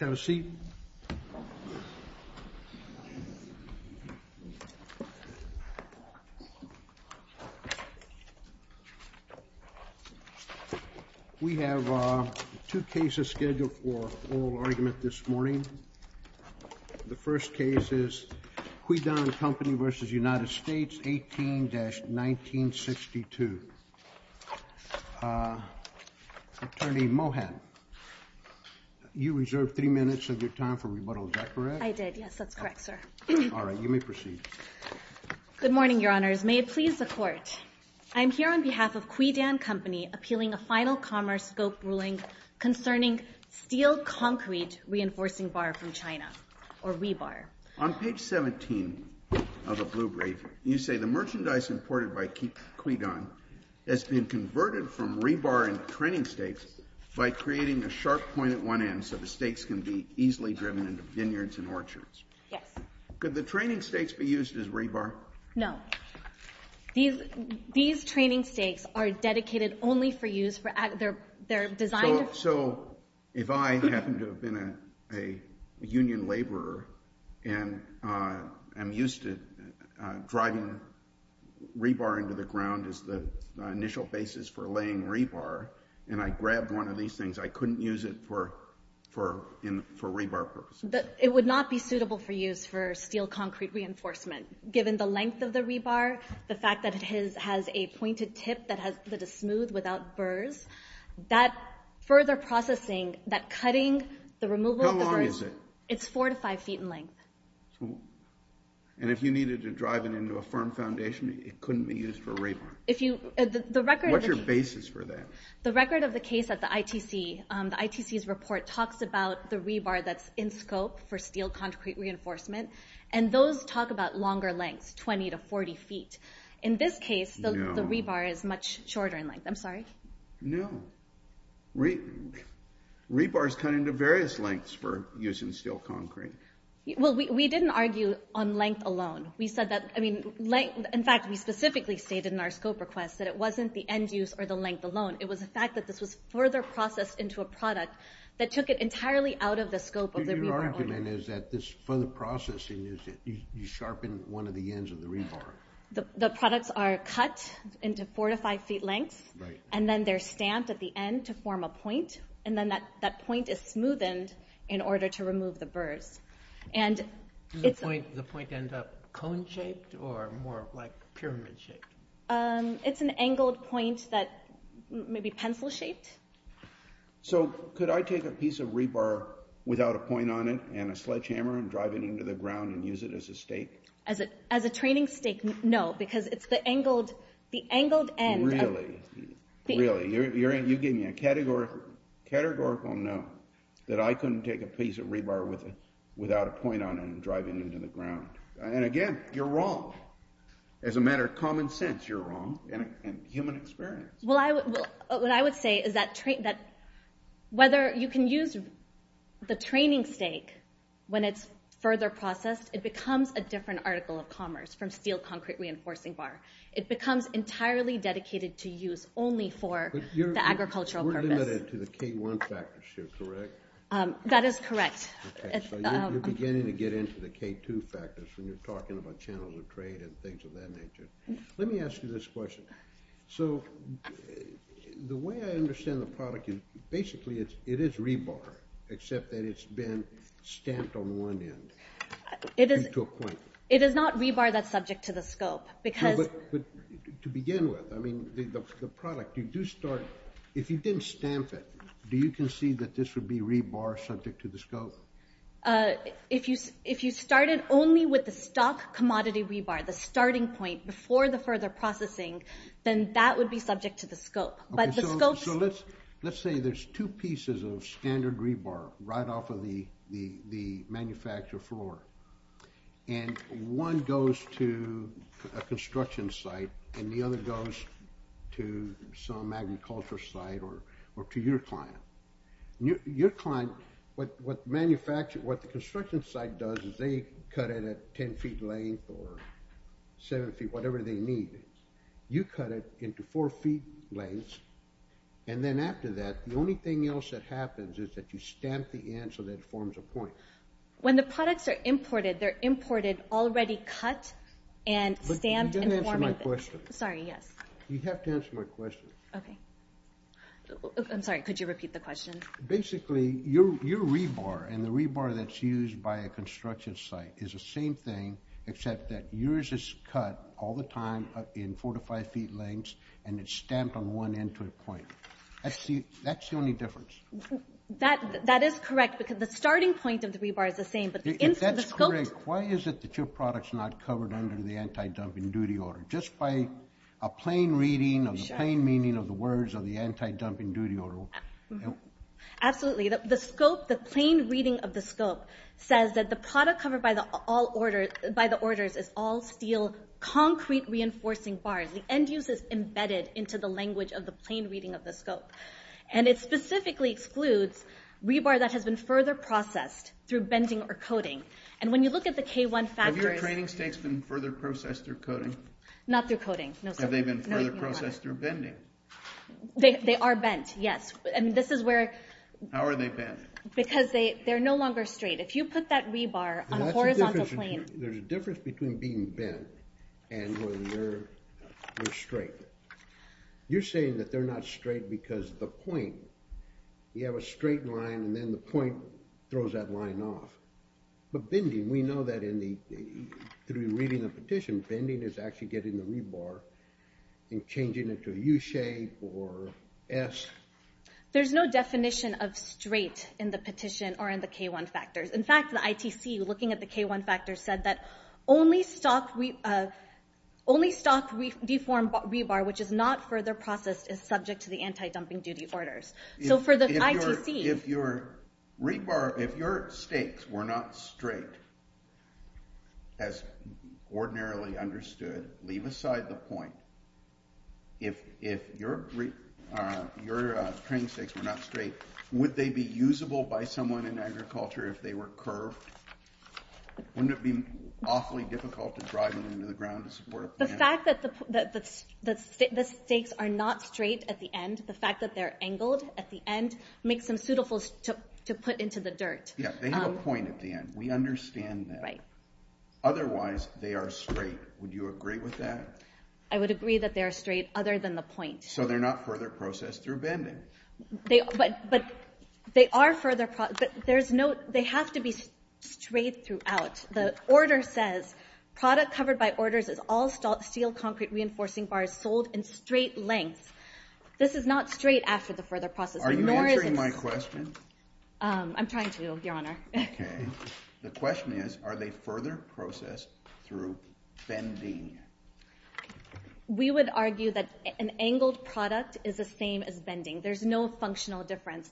18-1962. Attorney Mohan, you reserve three minutes to your time for rebuttal. Is that correct? I did, yes, that's correct, sir. All right, you may proceed. Good morning, Your Honors. May it please the Court, I'm here on behalf of Criedan Company appealing a final commerce scope ruling concerning steel concrete reinforcing bar from China, or rebar. On page 17 of the Blue Brief, you say the merchandise imported by Criedan has been converted from rebar and training stakes by creating a easily driven into vineyards and orchards. Yes. Could the training stakes be used as rebar? No. These training stakes are dedicated only for use for, they're designed... So if I happen to have been a union laborer and I'm used to driving rebar into the ground as the initial basis for laying rebar, and I could use them for rebar purposes. It would not be suitable for use for steel concrete reinforcement, given the length of the rebar, the fact that it has a pointed tip that is smooth without burrs. That further processing, that cutting, the removal of the burrs... How long is it? It's four to five feet in length. And if you needed to drive it into a firm foundation, it couldn't be used for rebar? If you, the record... What's your basis for that? The record of the case at the ITC, the ITC's report talks about the rebar that's in scope for steel concrete reinforcement, and those talk about longer lengths, 20 to 40 feet. In this case, the rebar is much shorter in length. I'm sorry? No. Rebars cut into various lengths for using steel concrete. Well, we didn't argue on length alone. We said that, I mean, in fact, we specifically stated in our scope request that it wasn't the end-use or the length alone. It was a fact that this was further processed into a product that took it entirely out of the scope of the rebar. So your argument is that this further processing is that you sharpen one of the ends of the rebar? The products are cut into four to five feet lengths, and then they're stamped at the end to form a point, and then that point is smoothened in order to remove the burrs. And the point ends up cone-shaped or more like pyramid-shaped? It's an So could I take a piece of rebar without a point on it and a sledgehammer and drive it into the ground and use it as a stake? As a training stake? No, because it's the angled end. Really? You're giving me a categorical no, that I couldn't take a piece of rebar without a point on it and drive it into the ground. And again, you're wrong. As a matter of common sense, you're wrong, in human experience. Well, what I would say is that whether you can use the training stake when it's further processed, it becomes a different article of commerce from steel concrete reinforcing bar. It becomes entirely dedicated to use only for the agricultural purpose. We're limited to the K1 factors here, correct? That is correct. You're beginning to get into the K2 factors when you're talking about channels of trade and things of that nature. Let me ask you this question. So the way I understand the product is basically it is rebar, except that it's been stamped on one end. It is not rebar that's subject to the scope. To begin with, I mean, the product, if you didn't stamp it, do you concede that this would be rebar subject to the scope? If you started only with the stock commodity rebar, the starting point before the further processing, then that would be subject to the scope. Let's say there's two pieces of standard rebar right off of the manufacturer floor, and one goes to a construction site and the other goes to some agriculture site or to your client. Your client, what the construction site does is they cut it at 10 feet length or 7 feet, whatever they need. You cut it into 4 feet lengths, and then after that, the only thing else that happens is that you stamp the end so that it forms a point. When the products are imported, they're imported already cut and stamped. You have to answer my question. I'm sorry, could you repeat the question? Basically, your rebar and the same thing, except that yours is cut all the time in 4 to 5 feet lengths, and it's stamped on one end to a point. That's the only difference. That is correct, because the starting point of the rebar is the same. If that's correct, why is it that your product's not covered under the anti-dumping duty order? Just by a plain reading of the plain meaning of the words of the anti-dumping duty order. Absolutely. The plain reading of the scope says that the product covered by the orders is all steel concrete reinforcing bars. The end use is embedded into the language of the plain reading of the scope. It specifically excludes rebar that has been further processed through bending or coating. When you look at the K1 factors... Have your training stakes been further processed through coating? Not through coating, no sir. Have they been further processed through bending? They are bent, yes. How are they bent? Because they're no longer straight. If you put that rebar on a horizontal plane... There's a difference between being bent and when they're straight. You're saying that they're not straight because the point, you have a straight line and then the point throws that line off. But bending, we know that through reading the petition, bending is actually getting the rebar and changing it to a U-shape or S. There's no definition of straight in the petition or in the K1 factors. In fact, the ITC, looking at the K1 factors, said that only stocked reformed rebar, which is not further processed, is subject to the anti-dumping duty orders. So for the ITC... If your stakes were not straight, as your training stakes were not straight, would they be usable by someone in agriculture if they were curved? Wouldn't it be awfully difficult to drive them into the ground to support a planter? The fact that the stakes are not straight at the end, the fact that they're angled at the end, makes them suitable to put into the dirt. Yeah, they have a point at the end. We understand that. Otherwise, they are straight. Would you agree with that? I would agree that they are straight other than the point. So they're not further processed through bending. But they are further processed... There's no... They have to be straight throughout. The order says, product covered by orders is all steel concrete reinforcing bars sold in straight lengths. This is not straight after the further processing. Are you answering my question? I'm trying to, your Honor. Okay. The question is, are they further processed through bending? We would argue that an angled product is the same as bending. There's no functional difference.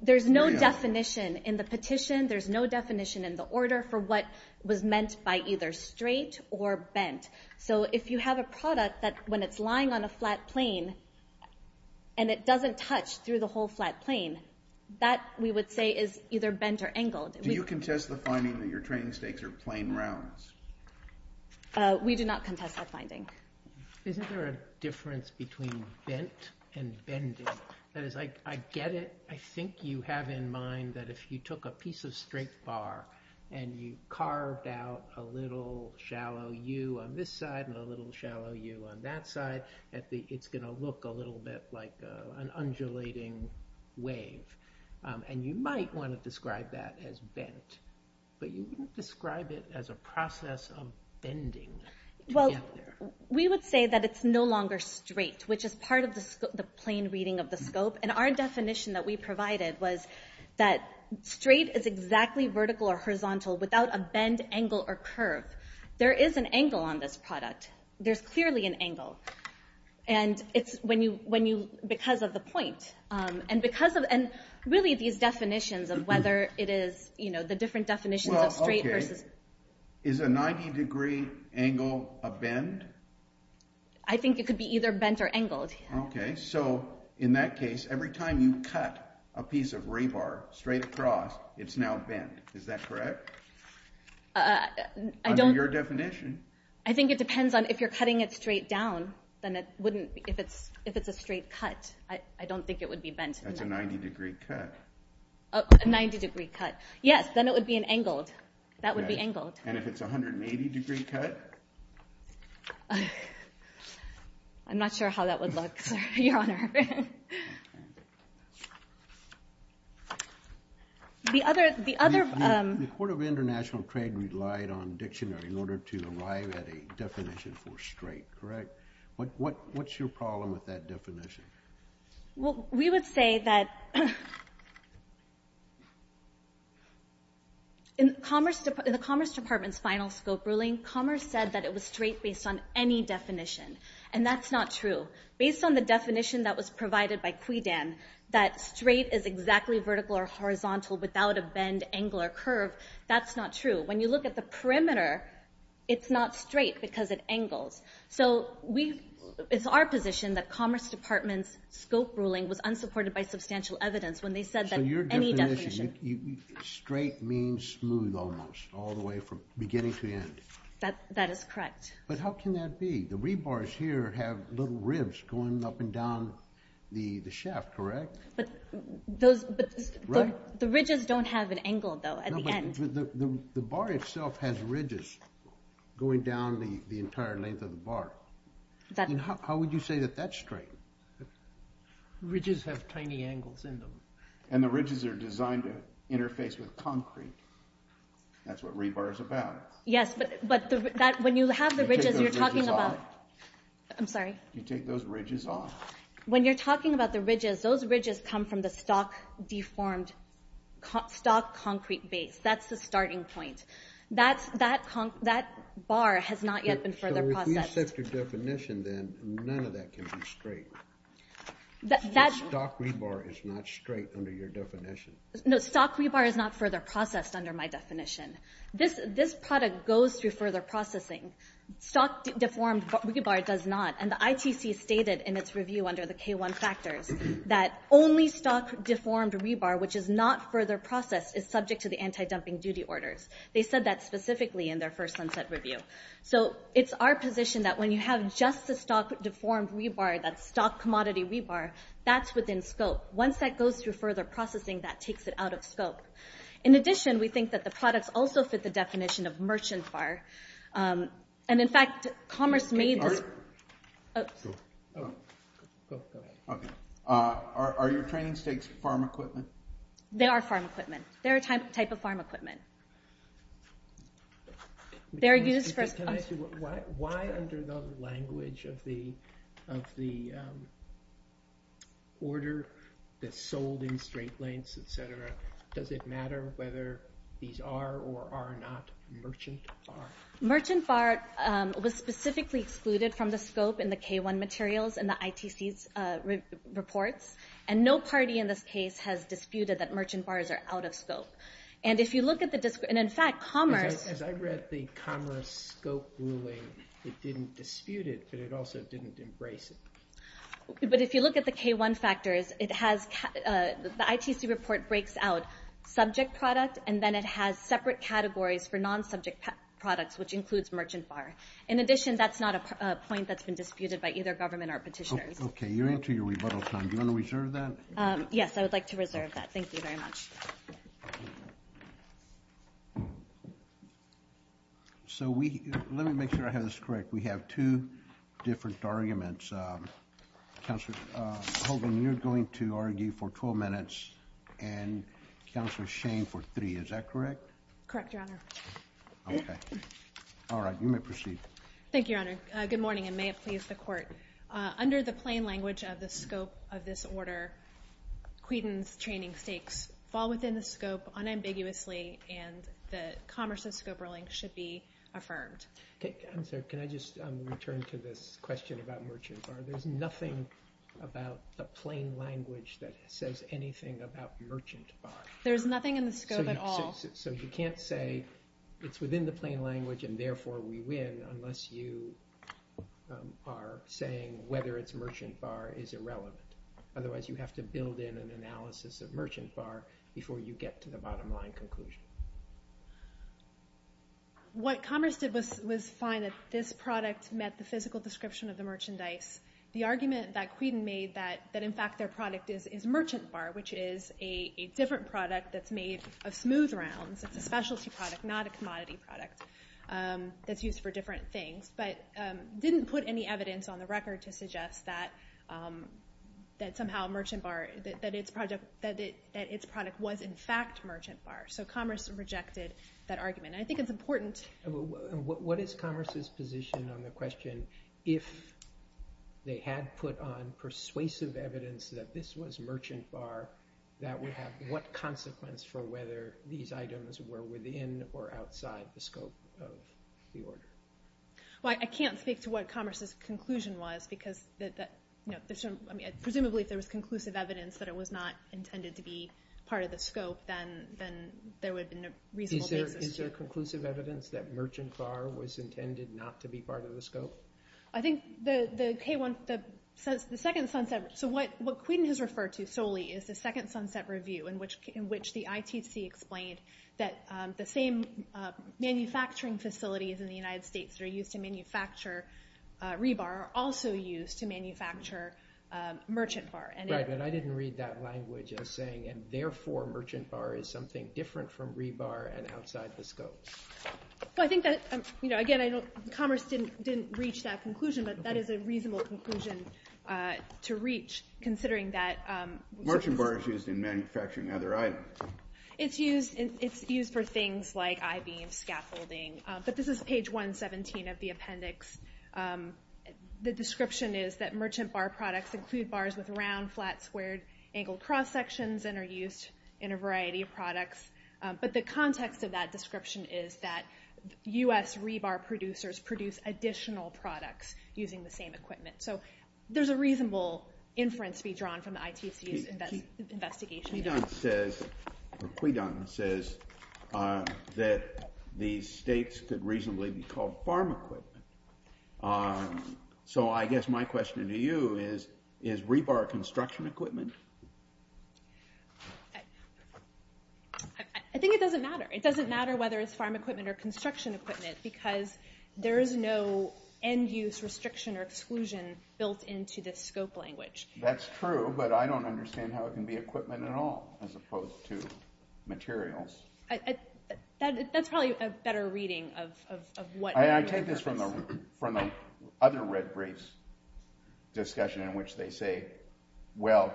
There's no definition in the petition. There's no definition in the order for what was meant by either straight or bent. So if you have a product that, when it's lying on a flat plane, and it doesn't touch through the whole flat plane, that, we would say, is either bent or angled. Do you contest the finding that your training stakes are plain rounds? We do not contest that finding. Isn't there a difference between bent and bending? That is, I get it. I think you have in mind that if you took a piece of straight bar and you carved out a little shallow U on this side and a little shallow U on that side, that it's gonna look a little bit like an undulating wave. And you might want to describe it as a process of bending. Well, we would say that it's no longer straight, which is part of the plane reading of the scope. And our definition that we provided was that straight is exactly vertical or horizontal without a bend, angle, or curve. There is an angle on this product. There's clearly an angle. And it's when you, because of the point, and because of, and really these definitions of whether it is, you know, the different definitions of straight versus... Is a 90-degree angle a bend? I think it could be either bent or angled. Okay, so in that case, every time you cut a piece of rebar straight across, it's now bent. Is that correct? I don't... Under your definition. I think it depends on if you're cutting it straight down, then it wouldn't, if it's, if it's a straight cut, I don't think it would be bent. That's a 90-degree cut. A 90-degree cut. Yes, then it would be an angled. That would be angled. And if it's a 180-degree cut? I'm not sure how that would look, Your Honor. The other, the other... The Court of International Trade relied on dictionary in order to arrive at a definition for straight, correct? What, what, what's your problem with that definition? Well, we would say that in Commerce, the Commerce Department's final scope ruling, Commerce said that it was straight based on any definition, and that's not true. Based on the definition that was provided by Quidan, that straight is exactly vertical or horizontal without a bend, angle, or curve, that's not true. When you look at the perimeter, it's not straight because it angles. So we, it's our position that was supported by substantial evidence when they said that any definition... So your definition, straight means smooth almost, all the way from beginning to the end. That, that is correct. But how can that be? The rebars here have little ribs going up and down the shaft, correct? But those, the ridges don't have an angle, though, at the end. The bar itself has ridges going down the entire length of the bar. How would you say that that's straight? Ridges have tiny angles in them. And the ridges are designed to interface with concrete. That's what rebar is about. Yes, but, but that, when you have the ridges, you're talking about... I'm sorry? You take those ridges off. When you're talking about the ridges, those ridges come from the stock deformed, stock concrete base. That's the starting point. That's, that, that bar has not yet been further processed. So if you set your definition then, none of that can be straight. The stock rebar is not straight under your definition. No, stock rebar is not further processed under my definition. This, this product goes through further processing. Stock deformed rebar does not. And the ITC stated in its review under the K-1 factors that only stock deformed rebar, which is not further processed, is subject to the anti-dumping duty orders. They said that specifically in their first sunset review. So it's our position that when you have just the stock deformed rebar that's stock deformed, it's not straight. When you have the stock commodity rebar, that's within scope. Once that goes through further processing, that takes it out of scope. In addition, we think that the products also fit the definition of merchant bar. And in fact, commerce made this... Oh, go ahead. Okay. Are your training stakes farm equipment? They are farm equipment. They're a type of farm equipment. They're used for... Can I ask you, why under the language of the, of the order that's sold in straight lengths, et cetera, does it matter whether these are or are not merchant bar? Merchant bar was specifically excluded from the scope in the K-1 materials in the ITC's reports. And no party in this case has disputed that merchant bars are out of scope. And if you look at the... And in fact, commerce... As I read the commerce scope ruling, it didn't dispute it, but it also didn't embrace it. But if you look at the K-1 factors, it has... The ITC report breaks out subject product, and then it has separate categories for non-subject products, which includes merchant bar. In addition, that's not a point that's been disputed by either government or petitioners. Okay, you're into your rebuttal time. Do you want to reserve that? Yes, I would like to reserve that. Thank you very much. So we... Let me make sure I have this correct. We have two different arguments. Counselor Hogan, you're going to argue for 12 minutes, and Counselor Shane for three. Is that correct? Correct, Your Honor. Okay. All right, you may proceed. Thank you, Your Honor. Good morning, and may it please the Court. Under the plain language of the scope of this order, Quedon's training stakes fall within the scope unambiguously, and the commerce of scope ruling should be affirmed. I'm sorry, can I just return to this question about merchant bar? There's nothing about the plain language that says anything about merchant bar. There's nothing in the scope at all. So you can't say it's within the plain language and therefore we win unless you are saying whether it's merchant bar is irrelevant. Otherwise, you have to build in an analysis of merchant bar before you get to the bottom line conclusion. What commerce did was find that this product met the physical description of the merchandise. The argument that Quedon made that in fact their product is merchant bar, which is a different product that's made of smooth rounds. It's a specialty product, not a commodity product that's used for different things, but didn't put any evidence on the record to suggest that somehow merchant bar... that its product was in fact merchant bar. So commerce rejected that argument. I think it's important... What is commerce's position on the question, if they had put on persuasive evidence that this was merchant bar, that would have what consequence for whether these items were within or outside the scope of the order? I can't speak to what commerce's conclusion was because presumably if there was conclusive evidence that it was not intended to be part of the scope, then there would have been a reasonable basis. Is there conclusive evidence that merchant bar was intended not to be part of the scope? What Quedon has referred to solely is the second sunset review in which the ITC explained that the same manufacturing facilities in the United States that are used to manufacture rebar are also used to manufacture merchant bar. Right, but I didn't read that language as saying, and therefore merchant bar is something different from rebar and outside the scope. Again, commerce didn't reach that conclusion, but that is a reasonable conclusion to reach considering that... Merchant bar is used in manufacturing other items. It's used for things like I-beam scaffolding, but this is page 117 of the appendix. The description is that merchant bar products include bars with round, flat, squared, angled cross sections and are used in a variety of products. But the context of that description is that U.S. rebar producers produce additional products using the same equipment. So there's a reasonable inference to be drawn from the ITC's investigation. Quedon says that these states could reasonably be called farm equipment. So I guess my question to you is, is rebar construction equipment? I think it doesn't matter. It doesn't matter whether it's farm equipment or construction equipment because there is no end-use restriction or exclusion built into this scope language. That's true, but I don't understand how it can be equipment at all as opposed to materials. That's probably a better reading of what... I take this from the other Red Brace discussion in which they say, well,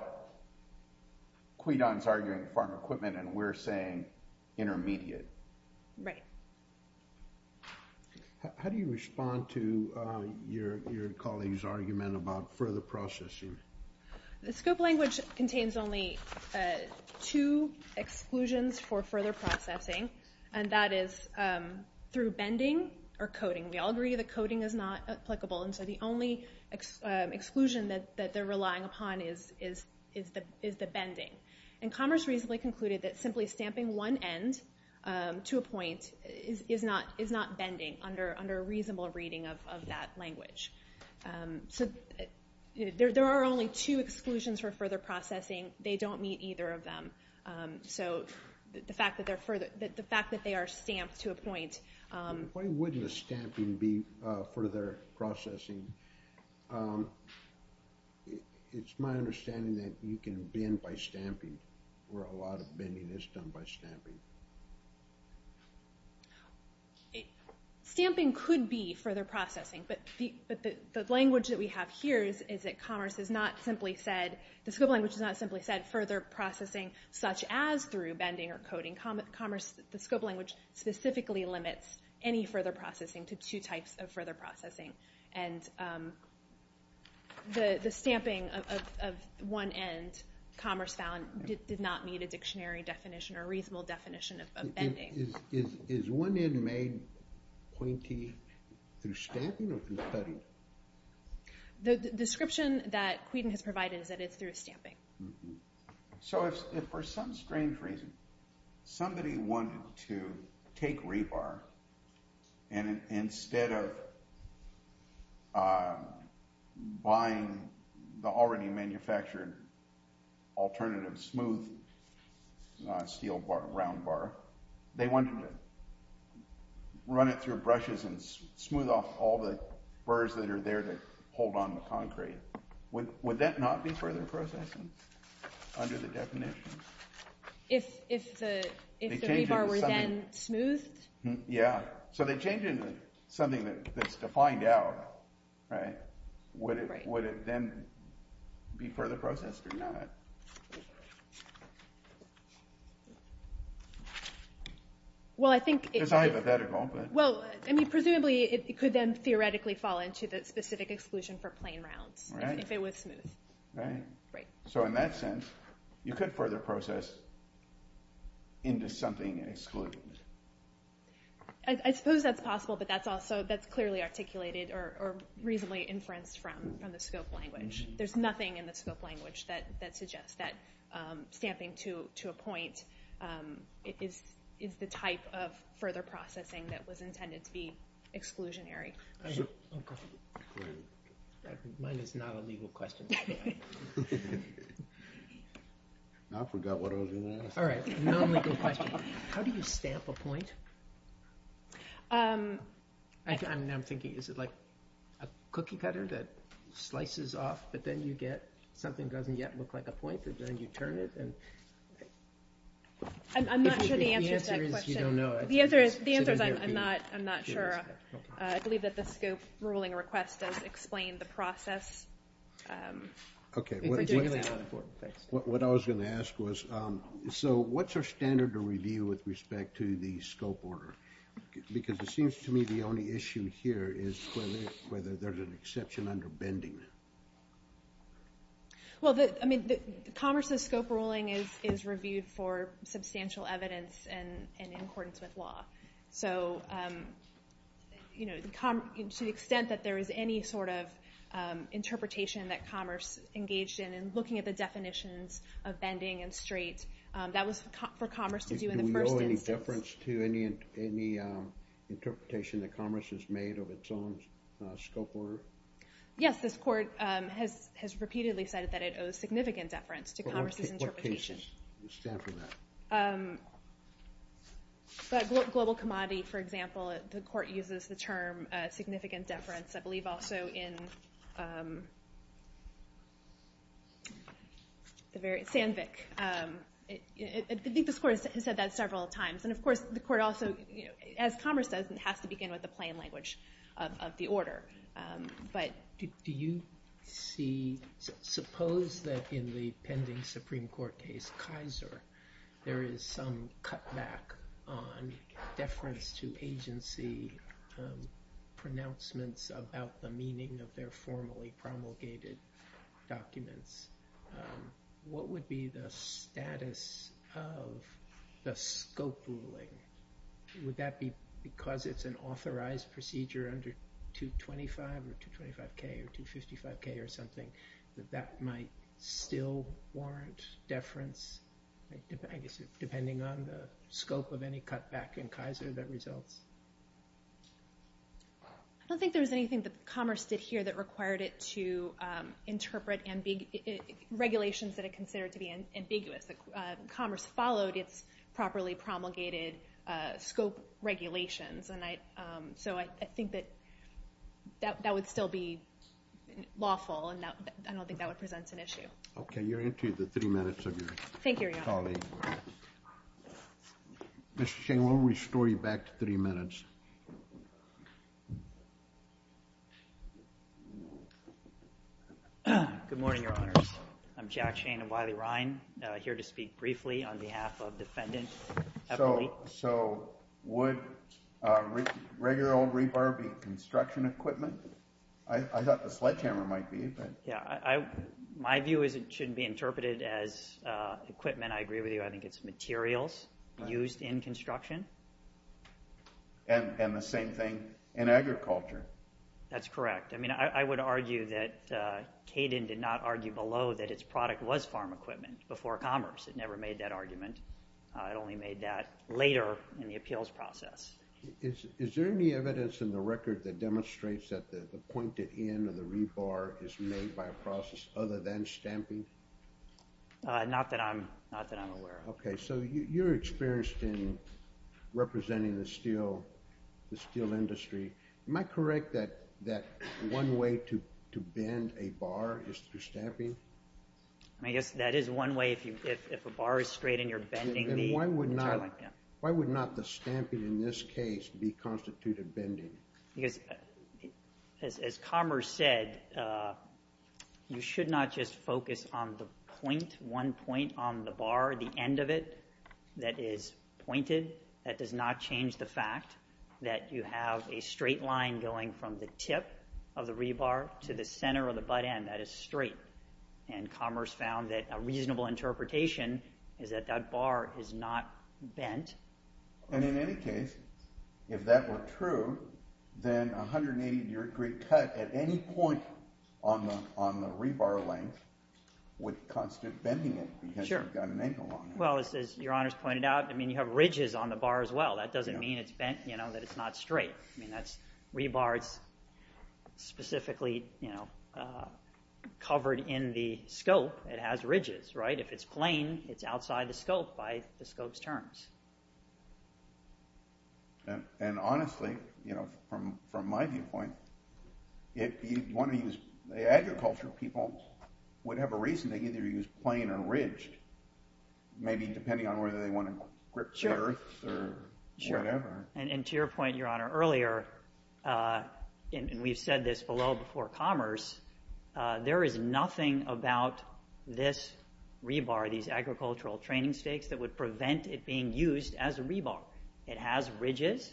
Quedon's arguing farm equipment and we're saying intermediate. Right. How do you respond to your colleague's argument about further processing? The scope language contains only two exclusions for further processing, and that is through bending or coating. We all agree that coating is not applicable, and so the only exclusion that they're relying upon is the bending. And Commerce reasonably concluded that simply stamping one end to a point is not bending under a reasonable reading of that language. So there are only two exclusions for further processing. They don't meet either of them. So the fact that they are stamped to a point... Why wouldn't the stamping be further processing? It's my understanding that you can bend by stamping, or a lot of bending is done by stamping. Stamping could be further processing, but the language that we have here is that Commerce has not simply said... the scope language has not simply said further processing such as through bending or coating. Commerce, the scope language specifically limits any further processing to two types of further processing. And the stamping of one end, Commerce found, did not meet a dictionary definition or reasonable definition of bending. Is one end made pointy through stamping or through cutting? The description that Quentin has provided is that it's through stamping. So if for some strange reason somebody wanted to take rebar, and instead of buying the already manufactured alternative smooth steel round bar, they wanted to run it through brushes and smooth off all the burrs that are there that hold on the concrete, would that not be further processing under the definition? If the rebar were then smoothed? Yeah. So they change it into something that's defined out, right? Would it then be further processed or not? Well, I think... It's hypothetical, but... Well, presumably it could then theoretically fall into the specific exclusion for plain rounds if it was smooth. Right. So in that sense, you could further process into something excluded. I suppose that's possible, but that's clearly articulated or reasonably inferenced from the scope language. There's nothing in the scope language that suggests that stamping to a point is the type of further processing that was intended to be exclusionary. Mine is not a legal question. I forgot what I was going to ask. Non-legal question. How do you stamp a point? I'm thinking, is it like a cookie cutter that slices off, but then you get something that doesn't yet look like a point, but then you turn it and... I'm not sure the answer to that question. The answer is I'm not sure. I believe that the scope ruling request does explain the process. Okay. What I was going to ask was, so what's our standard to review with respect to the scope order? Because it seems to me the only issue here is whether there's an exception under bending. Well, Commerce's scope ruling is reviewed for substantial evidence and in accordance with law. So to the extent that there is any sort of interpretation that Commerce engaged in in looking at the definitions of bending and straight, that was for Commerce to do in the first instance. Do we owe any deference to any interpretation that Commerce has made of its own scope order? Yes, this court has repeatedly said that it owes significant deference to Commerce's interpretation. Well, in what case do you stand for that? But global commodity, for example, the court uses the term significant deference, I believe also in Sandvik. I think this court has said that several times. And of course, the court also, as Commerce says, it has to begin with the plain language of the order. Do you see, suppose that in the pending Supreme Court case, Kaiser, there is some cutback on deference to agency pronouncements about the meaning of their formally promulgated documents. What would be the status of the scope ruling? Would that be because it's an authorized procedure under 225 or 225K or 255K or something, that that might still warrant deference, I guess depending on the scope of any cutback in Kaiser that results? I don't think there's anything that Commerce did here that required it to interpret regulations that are considered to be ambiguous. Commerce followed its properly promulgated scope regulations. And so I think that that would still be lawful, and I don't think that would present an issue. Okay. You're into the three minutes of your colleague. Thank you, Your Honor. Mr. Shane, we'll restore you back to three minutes. Good morning, Your Honors. I'm Jack Shane of Wiley-Rhein, here to speak briefly on behalf of Defendant Eberle. So would regular old rebar be construction equipment? I thought the sledgehammer might be. Yeah. My view is it shouldn't be interpreted as equipment. I agree with you. I think it's materials used in construction. And the same thing in agriculture. That's correct. I mean, I would argue that Caden did not argue below that its product was farm equipment before Commerce. It never made that argument. It only made that later in the appeals process. Is there any evidence in the record that demonstrates that the pointed end of the rebar is made by a process other than stamping? Not that I'm aware of. Okay. So you're experienced in representing the steel industry. Am I correct that one way to bend a bar is through stamping? I guess that is one way if a bar is straight and you're bending the material. Then why would not the stamping in this case be constituted bending? Because as Commerce said, you should not just focus on the point, one point on the bar, the end of it that is pointed. That does not change the fact that you have a straight line going from the tip of the rebar to the center of the butt end. That is straight. And Commerce found that a reasonable interpretation is that that bar is not bent. And in any case, if that were true, then a 180-degree cut at any point on the rebar length would constitute bending it because you've got an angle on it. Well, as your honors pointed out, you have ridges on the bar as well. That doesn't mean that it's not straight. Rebar is specifically covered in the scope. It has ridges. If it's plain, it's outside the scope by the scope's terms. And honestly, you know, from my viewpoint, if you want to use the agricultural people would have a reason to either use plain or ridged, maybe depending on whether they want to grip the earth or whatever. And to your point, your honor, earlier, and we've said this below before Commerce, there is nothing about this rebar, these agricultural training stakes that would prevent it being used as a rebar. It has ridges.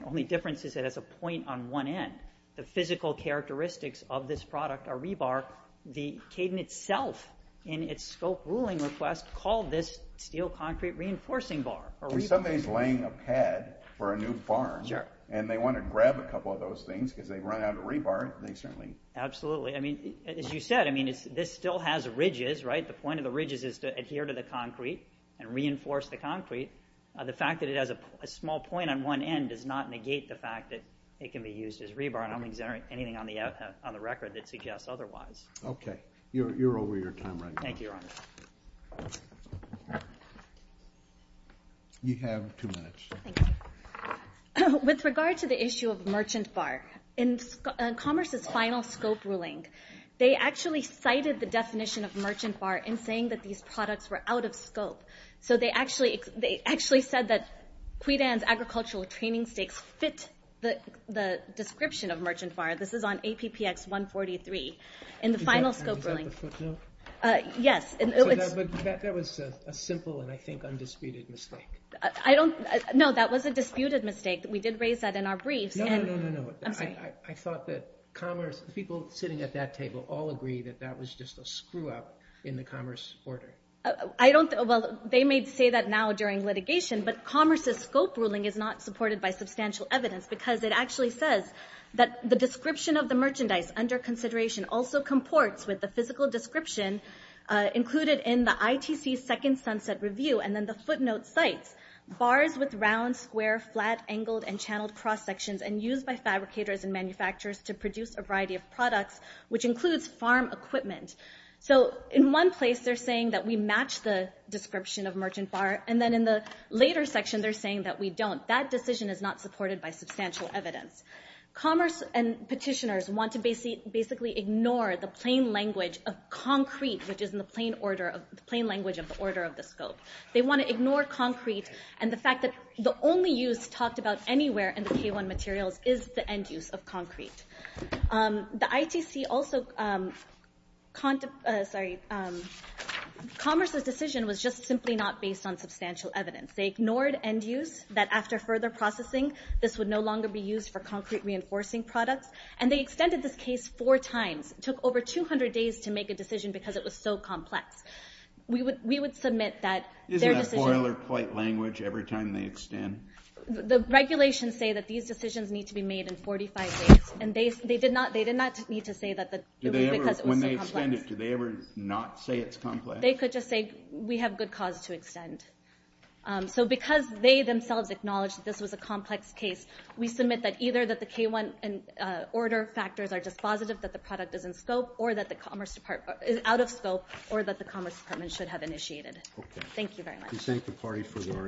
The only difference is it has a point on one end. The physical characteristics of this product are rebar. The Cadent itself in its scope ruling request called this steel concrete reinforcing bar. If somebody is laying a pad for a new farm and they want to grab a couple of those things because they've run out of rebar, they certainly. Absolutely. I mean, as you said, I mean, this still has ridges, right? The point of the ridges is to adhere to the concrete and reinforce the concrete. The fact that it has a small point on one end does not negate the fact that it can be used as rebar. And I don't think there's anything on the record that suggests otherwise. OK. You're over your time right now. Thank you, your honor. You have two minutes. Thank you. With regard to the issue of Merchant Bar, in Commerce's final scope ruling, they actually cited the definition of Merchant Bar in saying that these products were out of scope. So they actually said that Quidan's agricultural training stakes fit the description of Merchant Bar. This is on APPX 143 in the final scope ruling. Is that the footnote? Yes. That was a simple and I think undisputed mistake. I don't – no, that was a disputed mistake. We did raise that in our briefs. No, no, no, no, no. I thought that Commerce – the people sitting at that table all agree that that was just a screw-up in the Commerce order. I don't – well, they may say that now during litigation, but Commerce's scope ruling is not supported by substantial evidence because it actually says that the description of the merchandise under consideration also comports with the physical description included in the ITC's second sunset review. And then the footnote cites bars with round, square, flat, angled, and channeled cross-sections and used by fabricators and manufacturers to produce a variety of products, which includes farm equipment. So in one place they're saying that we match the description of Merchant Bar, and then in the later section they're saying that we don't. That decision is not supported by substantial evidence. Commerce and petitioners want to basically ignore the plain language of concrete, which is in the plain order of – the plain language of the order of the scope. They want to ignore concrete and the fact that the only use talked about anywhere in the K1 materials is the end use of concrete. The ITC also – sorry, Commerce's decision was just simply not based on substantial evidence. They ignored end use, that after further processing this would no longer be used for concrete reinforcing products, and they extended this case four times. It took over 200 days to make a decision because it was so complex. We would submit that their decision – Isn't that boilerplate language every time they extend? The regulations say that these decisions need to be made in 45 days, and they did not need to say that because it was so complex. When they extend it, do they ever not say it's complex? They could just say we have good cause to extend. So because they themselves acknowledged that this was a complex case, we submit that either that the K1 order factors are dispositive, that the product is in scope, or that the Commerce Department – is out of scope, or that the Commerce Department should have initiated it. Thank you very much. We thank the party for their arguments.